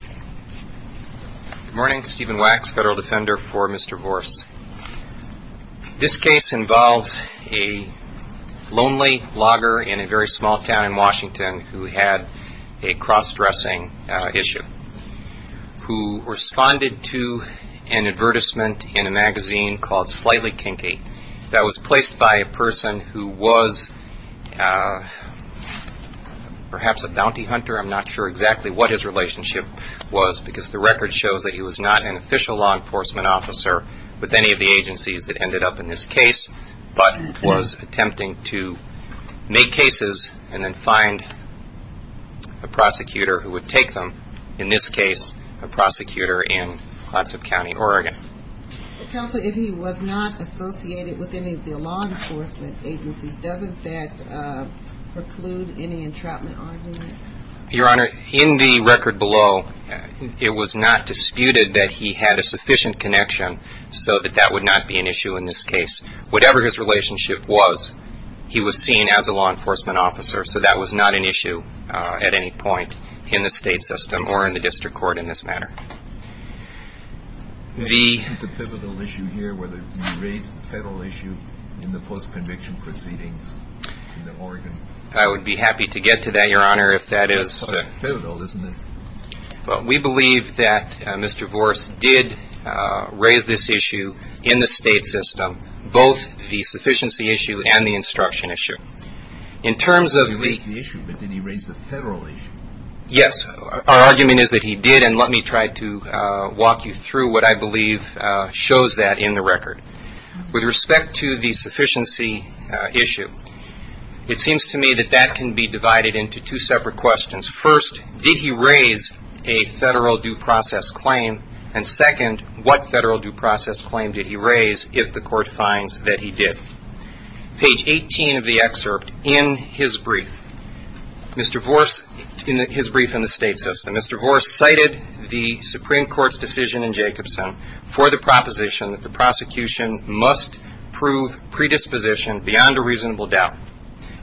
Good morning, Stephen Wax, Federal Defender for Mr. Vorce. This case involves a lonely logger in a very small town in Washington who had a cross-dressing issue, who responded to an advertisement in a magazine called Slightly Kinky that was placed by a person who was perhaps a bounty hunter. I'm not sure exactly what his relationship was because the record shows that he was not an official law enforcement officer with any of the agencies that ended up in this case, but was attempting to make cases and then find a prosecutor who would take them, in this case a prosecutor in Clatsop County, Oregon. Counsel, if he was not associated with any of the law enforcement agencies, does that preclude any entrapment argument? Your Honor, in the record below, it was not disputed that he had a sufficient connection so that that would not be an issue in this case. Whatever his relationship was, he was seen as a law enforcement officer, so that was not an issue at any point in the state system or in the district court in this matter. Is this a pivotal issue here, whether he raised the federal issue in the post-conviction proceedings in Oregon? I would be happy to get to that, Your Honor, if that is so. It's pivotal, isn't it? We believe that Mr. Vorce did raise this issue in the state system, both the sufficiency issue and the instruction issue. He raised the issue, but did he raise the federal issue? Yes. Our argument is that he did, and let me try to walk you through what I believe shows that in the record. With respect to the sufficiency issue, it seems to me that that can be divided into two separate questions. First, did he raise a federal due process claim? And second, what federal due process claim did he raise if the court finds that he did? Page 18 of the excerpt in his brief, his brief in the state system, Mr. Vorce cited the Supreme Court's decision in Jacobson for the proposition that the prosecution must prove predisposition beyond a reasonable doubt,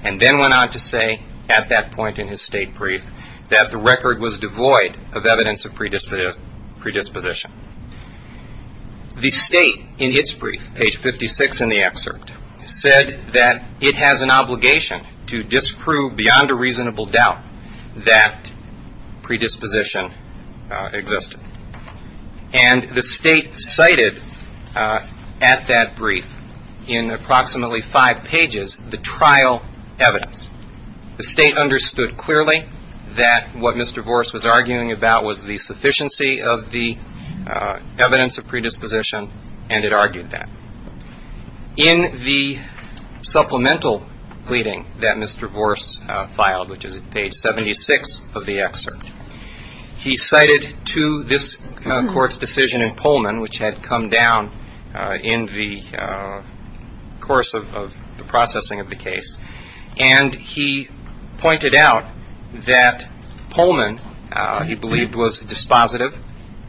and then went on to say at that point in his state brief that the record was devoid of evidence of predisposition. The state in its brief, page 56 in the excerpt, said that it has an obligation to disprove beyond a reasonable doubt that predisposition existed. And the state cited at that brief in approximately five pages the trial evidence. The state understood clearly that what Mr. Vorce was arguing about was the sufficiency of the evidence of predisposition, and it argued that. In the supplemental pleading that Mr. Vorce filed, which is at page 76 of the excerpt, he cited to this court's decision in Pullman, which had come down in the course of the processing of the case, and he pointed out that Pullman, he believed, was dispositive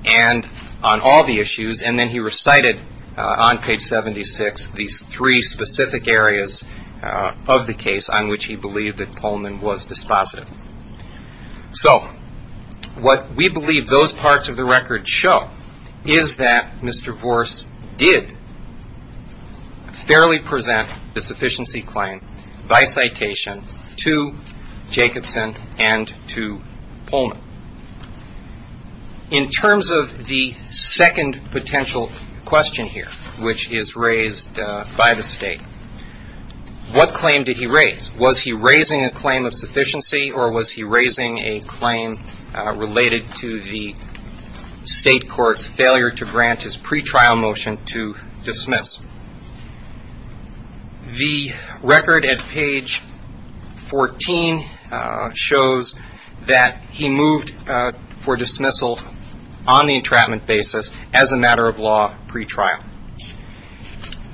on all the issues, and then he recited on page 76 these three specific areas of the case on which he believed that Pullman was dispositive. So what we believe those parts of the record show is that Mr. Vorce did fairly present the sufficiency claim by citation to Jacobson and to Pullman. In terms of the second potential question here, which is raised by the state, what claim did he raise? Was he raising a claim of sufficiency, or was he raising a claim related to the state court's failure to grant his pretrial motion to dismiss? The record at page 14 shows that he moved for dismissal on the entrapment basis as a matter of law pretrial.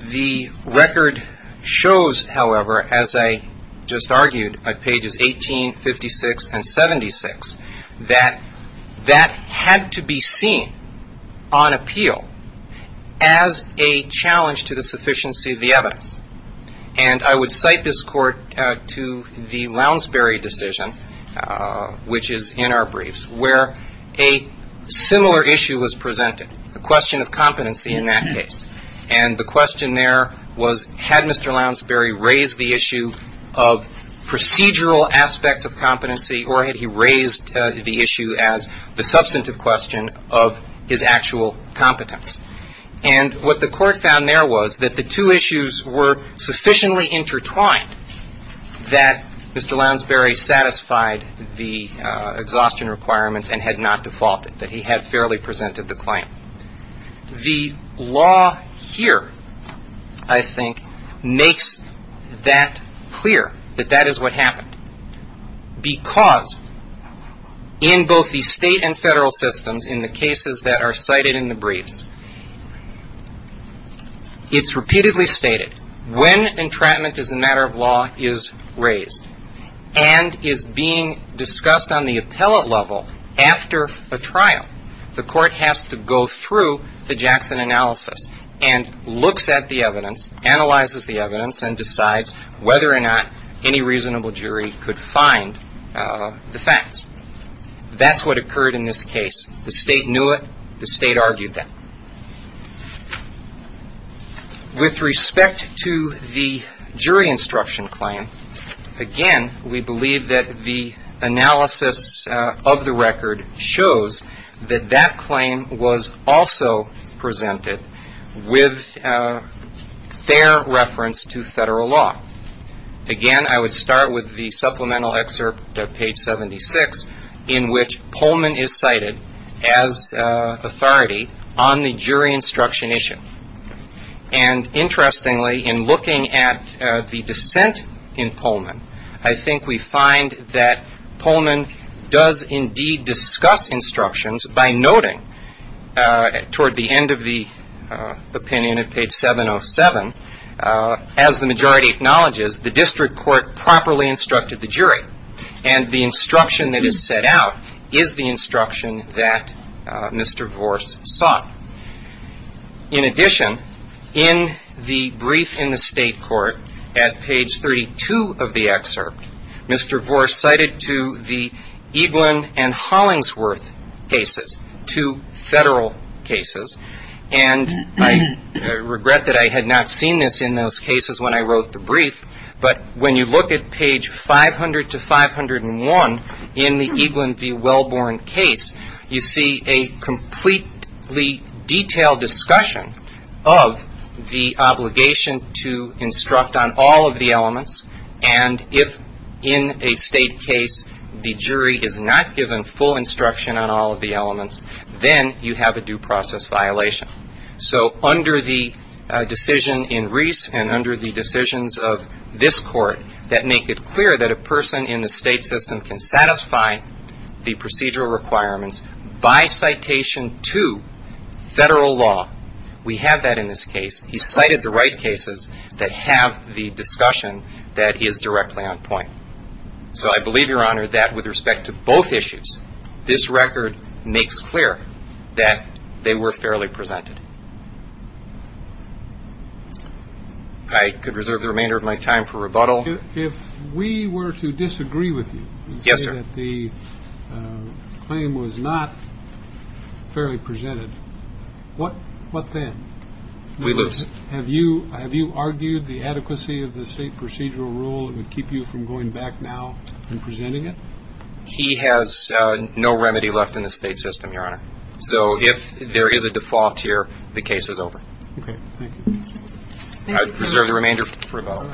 The record shows, however, as I just argued at pages 18, 56, and 76, that that had to be seen on appeal as a challenge to the sufficiency of the evidence. And I would cite this court to the Lounsbury decision, which is in our briefs, where a similar issue was presented, the question of competency in that case. And the question there was, had Mr. Lounsbury raised the issue of procedural aspects of competency, or had he raised the issue as the substantive question of his actual competence? And what the court found there was that the two issues were sufficiently intertwined that Mr. Lounsbury satisfied the exhaustion requirements and had not defaulted, that he had fairly presented the claim. The law here, I think, makes that clear, that that is what happened, because in both the state and federal systems, in the cases that are cited in the briefs, it's repeatedly stated, when entrapment as a matter of law is raised and is being discussed on the appellate level after a trial, the court has to go through the Jackson analysis and looks at the evidence, analyzes the evidence, and decides whether or not any reasonable jury could find the facts. That's what occurred in this case. The state knew it. The state argued that. With respect to the jury instruction claim, again, we believe that the analysis of the record shows that that claim was also presented with fair reference to federal law. Again, I would start with the supplemental excerpt at page 76, in which Pullman is cited as authority on the jury instruction issue. And interestingly, in looking at the dissent in Pullman, I think we find that Pullman does indeed discuss instructions by noting, toward the end of the opinion at page 707, as the majority acknowledges, the district court properly instructed the jury. And the instruction that is set out is the instruction that Mr. Vorce sought. In addition, in the brief in the state court at page 32 of the excerpt, Mr. Vorce cited to the Eaglin and Hollingsworth cases, two federal cases. And I regret that I had not seen this in those cases when I wrote the brief, but when you look at page 500 to 501 in the Eaglin v. Wellborn case, you see a completely detailed discussion of the obligation to instruct on all of the elements, and if in a state case the jury is not given full instruction on all of the elements, then you have a due process violation. So under the decision in Reese and under the decisions of this court that make it clear that a person in the state system can satisfy the procedural requirements by citation to federal law, we have that in this case. He cited the right cases that have the discussion that is directly on point. So I believe, Your Honor, that with respect to both issues, this record makes clear that they were fairly presented. I could reserve the remainder of my time for rebuttal. If we were to disagree with you and say that the claim was not fairly presented, what then? We lose. Have you argued the adequacy of the state procedural rule that would keep you from going back now and presenting it? He has no remedy left in the state system, Your Honor. So if there is a default here, the case is over. Okay. Thank you. I reserve the remainder for rebuttal.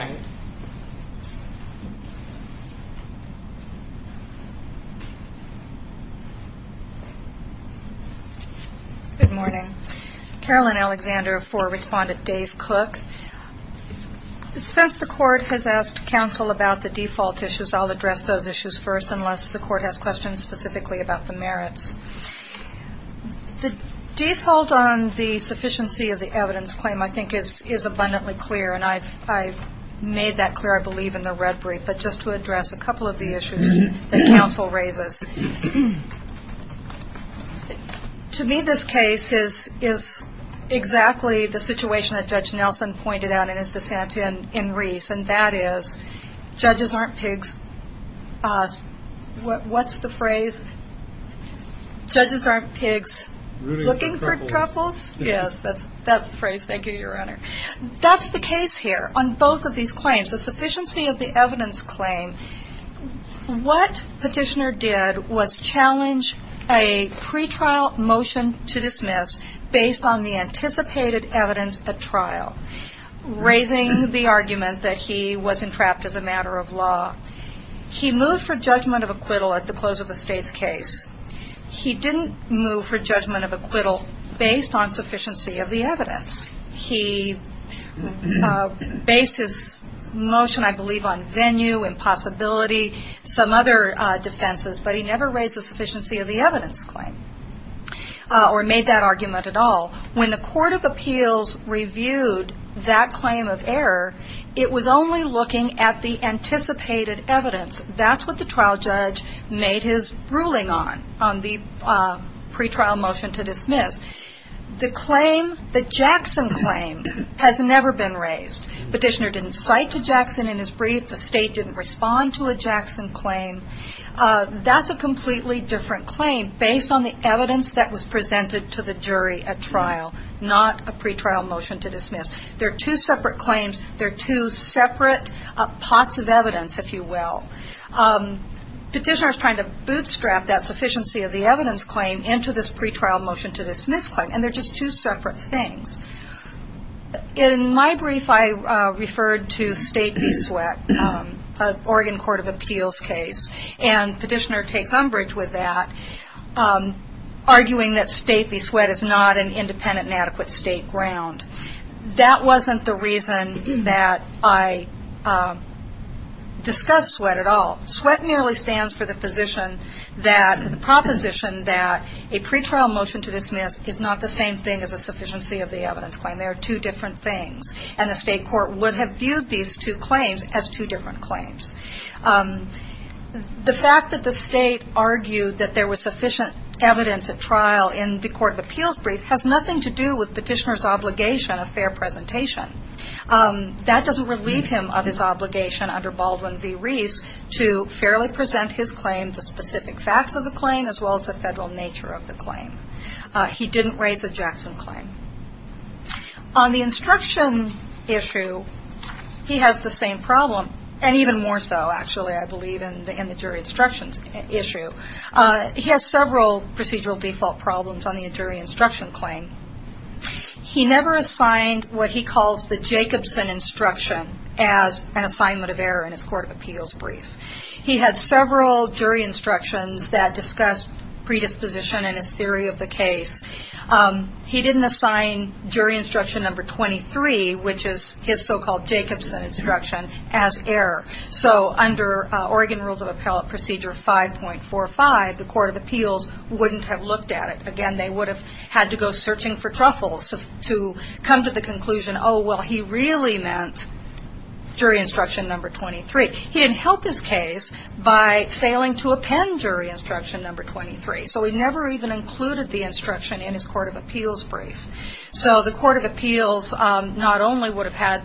Good morning. Carolyn Alexander for Respondent Dave Cook. Since the court has asked counsel about the default issues, I'll address those issues first unless the court has questions specifically about the merits. The default on the sufficiency of the evidence claim, I think, is abundantly clear, and I've made that clear, I believe, in the red brief. But just to address a couple of the issues that counsel raises. To me, this case is exactly the situation that Judge Nelson pointed out in his dissent in Reese, and that is judges aren't pigs. What's the phrase? Judges aren't pigs looking for troubles. Yes, that's the phrase. Thank you, Your Honor. That's the case here on both of these claims, the sufficiency of the evidence claim. What Petitioner did was challenge a pretrial motion to dismiss based on the anticipated evidence at trial, raising the argument that he was entrapped as a matter of law. He moved for judgment of acquittal at the close of the state's case. He didn't move for judgment of acquittal based on sufficiency of the evidence. He based his motion, I believe, on venue, impossibility, some other defenses, but he never raised the sufficiency of the evidence claim or made that argument at all. When the Court of Appeals reviewed that claim of error, it was only looking at the anticipated evidence. That's what the trial judge made his ruling on, on the pretrial motion to dismiss. The claim, the Jackson claim, has never been raised. Petitioner didn't cite to Jackson in his brief. The state didn't respond to a Jackson claim. That's a completely different claim based on the evidence that was presented to the jury at trial, not a pretrial motion to dismiss. They're two separate claims. They're two separate pots of evidence, if you will. Petitioner is trying to bootstrap that sufficiency of the evidence claim into this pretrial motion to dismiss claim, and they're just two separate things. In my brief, I referred to stately sweat, Oregon Court of Appeals case, and Petitioner takes umbrage with that, arguing that stately sweat is not an independent and adequate state ground. That wasn't the reason that I discussed sweat at all. Sweat merely stands for the position that, the proposition that a pretrial motion to dismiss is not the same thing as a sufficiency of the evidence claim. They are two different things, and the state court would have viewed these two claims as two different claims. The fact that the state argued that there was sufficient evidence at trial in the Court of Appeals brief has nothing to do with Petitioner's obligation of fair presentation. That doesn't relieve him of his obligation under Baldwin v. Rees to fairly present his claim, the specific facts of the claim, as well as the federal nature of the claim. He didn't raise a Jackson claim. On the instruction issue, he has the same problem, and even more so, actually, I believe, in the jury instructions issue. He has several procedural default problems on the jury instruction claim. He never assigned what he calls the Jacobson instruction as an assignment of error in his Court of Appeals brief. He had several jury instructions that discussed predisposition in his theory of the case. He didn't assign jury instruction number 23, which is his so-called Jacobson instruction, as error. So under Oregon Rules of Appellate Procedure 5.45, the Court of Appeals wouldn't have looked at it. Again, they would have had to go searching for truffles to come to the conclusion, oh, well, he really meant jury instruction number 23. He didn't help his case by failing to append jury instruction number 23, so he never even included the instruction in his Court of Appeals brief. So the Court of Appeals not only would have had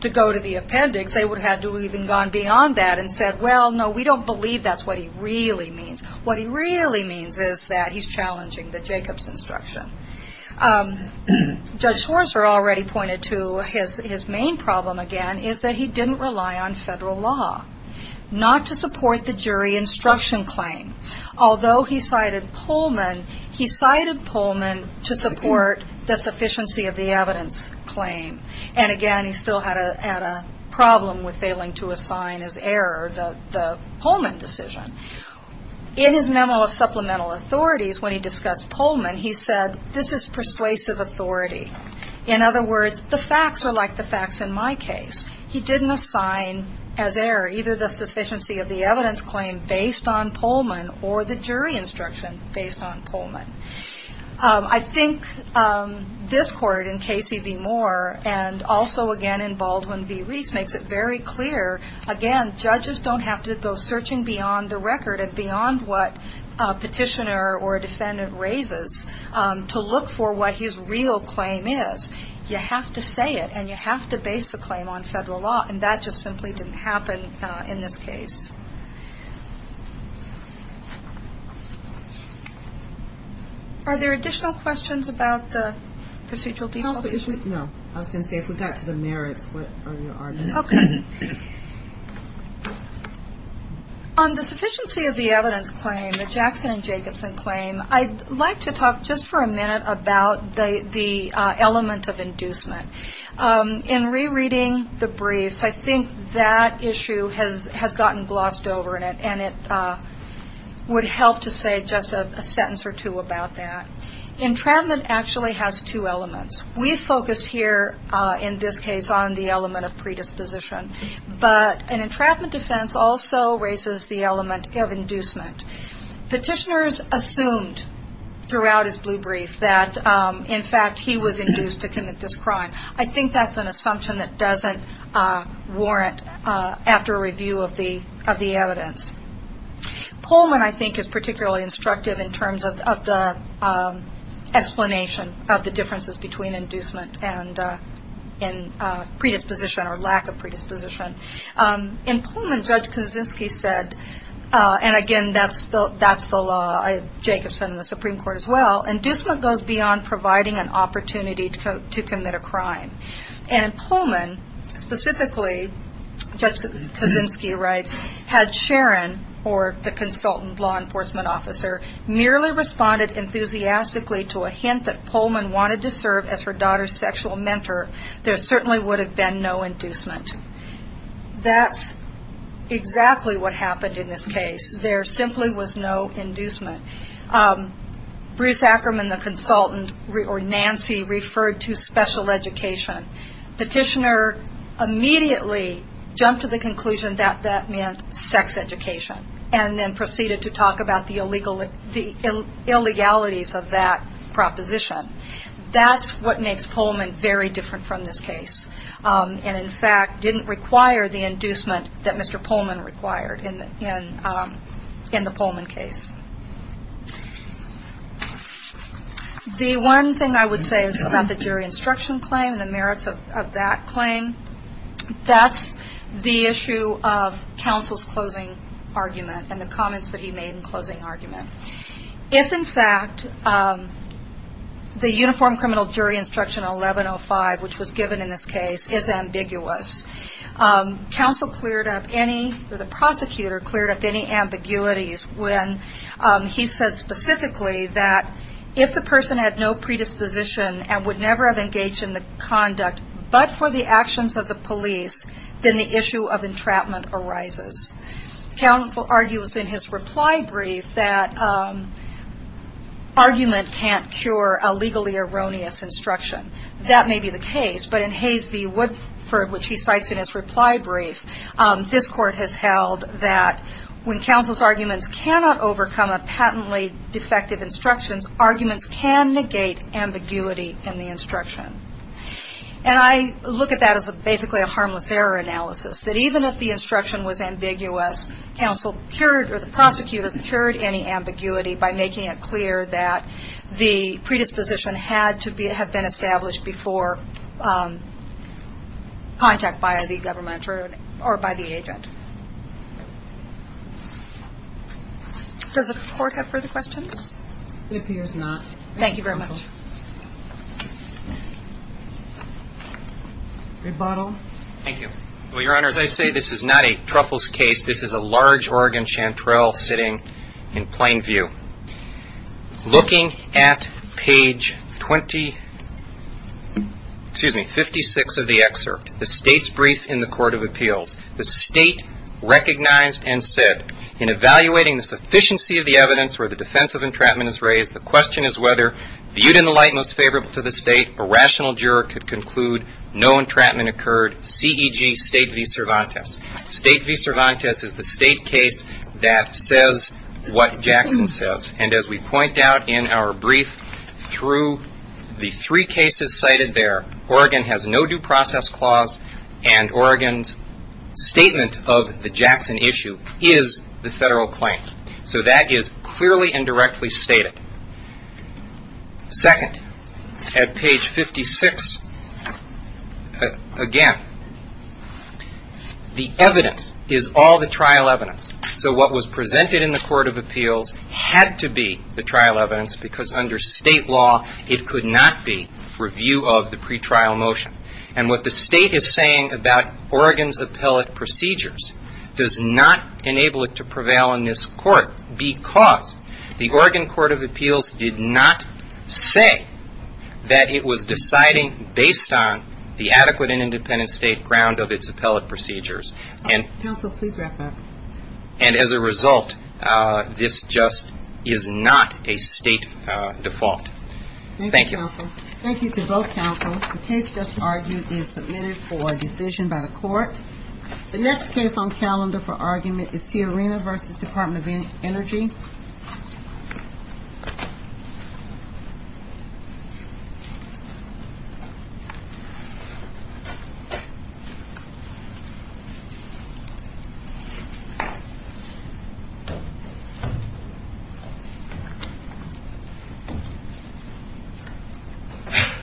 to go to the appendix, they would have had to have even gone beyond that and said, well, no, we don't believe that's what he really means. What he really means is that he's challenging the Jacobson instruction. Judge Schwarzer already pointed to his main problem, again, is that he didn't rely on federal law, not to support the jury instruction claim. Although he cited Pullman, he cited Pullman to support the sufficiency of the evidence claim. And again, he still had a problem with failing to assign as error the Pullman decision. In his memo of supplemental authorities, when he discussed Pullman, he said, this is persuasive authority. In other words, the facts are like the facts in my case. He didn't assign as error either the sufficiency of the evidence claim based on Pullman or the jury instruction based on Pullman. I think this Court, in Casey v. Moore, and also, again, in Baldwin v. Reese, makes it very clear, again, judges don't have to go searching beyond the record and beyond what a petitioner or a defendant raises to look for what his real claim is. You have to say it, and you have to base the claim on federal law. And that just simply didn't happen in this case. Are there additional questions about the procedural default? No. I was going to say, if we got to the merits, what are your arguments? Okay. On the sufficiency of the evidence claim, the Jackson and Jacobson claim, I'd like to talk just for a minute about the element of inducement. In rereading the briefs, I think that issue has gotten glossed over, and it would help to say just a sentence or two about that. Entrapment actually has two elements. We focus here, in this case, on the element of predisposition. But an entrapment defense also raises the element of inducement. Petitioners assumed throughout his blue brief that, in fact, he was induced to commit this crime. I think that's an assumption that doesn't warrant after review of the evidence. Pullman, I think, is particularly instructive in terms of the explanation of the differences between inducement and predisposition or lack of predisposition. In Pullman, Judge Kaczynski said, and again, that's the law, Jacobson and the Supreme Court as well, inducement goes beyond providing an opportunity to commit a crime. And in Pullman, specifically, Judge Kaczynski writes, had Sharon, or the consultant law enforcement officer, merely responded enthusiastically to a hint that Pullman wanted to serve as her daughter's sexual mentor, there certainly would have been no inducement. That's exactly what happened in this case. There simply was no inducement. Bruce Ackerman, the consultant, or Nancy, referred to special education. Petitioner immediately jumped to the conclusion that that meant sex education and then proceeded to talk about the illegalities of that proposition. That's what makes Pullman very different from this case. And, in fact, didn't require the inducement that Mr. Pullman required in the Pullman case. The one thing I would say is about the jury instruction claim and the merits of that claim. That's the issue of counsel's closing argument and the comments that he made in closing argument. If, in fact, the uniform criminal jury instruction 1105, which was given in this case, is ambiguous, counsel cleared up any, or the prosecutor cleared up any ambiguities when he said specifically that if the person had no predisposition and would never have engaged in the conduct but for the actions of the police, then the issue of entrapment arises. Counsel argues in his reply brief that argument can't cure a legally erroneous instruction. That may be the case, but in Hayes v. Woodford, which he cites in his reply brief, this Court has held that when counsel's arguments cannot overcome a patently defective instruction, arguments can negate ambiguity in the instruction. And I look at that as basically a harmless error analysis, that even if the instruction was ambiguous, counsel cured, or the prosecutor cured any ambiguity by making it clear that the predisposition had to have been established before contact by the government or by the agent. Does the Court have further questions? It appears not. Thank you very much. Rebuttal. Thank you. Well, Your Honor, as I say, this is not a truffles case. This is a large Oregon chanterelle sitting in plain view. Looking at page 20, excuse me, 56 of the excerpt, the State's brief in the Court of Appeals, the State recognized and said, in evaluating the sufficiency of the evidence where the defense of entrapment is raised, the question is whether, viewed in the light most favorable to the State, a rational juror could conclude no entrapment occurred, C.E.G. State v. Cervantes. State v. Cervantes is the State case that says what Jackson says. And as we point out in our brief, through the three cases cited there, Oregon has no due process clause, and Oregon's statement of the Jackson issue is the Federal claim. So that is clearly and directly stated. Second, at page 56, again, the evidence is all the trial evidence. So what was presented in the Court of Appeals had to be the trial evidence, because under State law, it could not be review of the pretrial motion. And what the State is saying about Oregon's appellate procedures does not enable it to prevail in this court, because the Oregon Court of Appeals did not say that it was deciding based on the adequate and independent State ground of its appellate procedures. And as a result, this just is not a State default. Thank you. Thank you to both counsels. The case just argued is submitted for decision by the Court. The next case on calendar for argument is Tiarina v. Department of Energy. Thank you.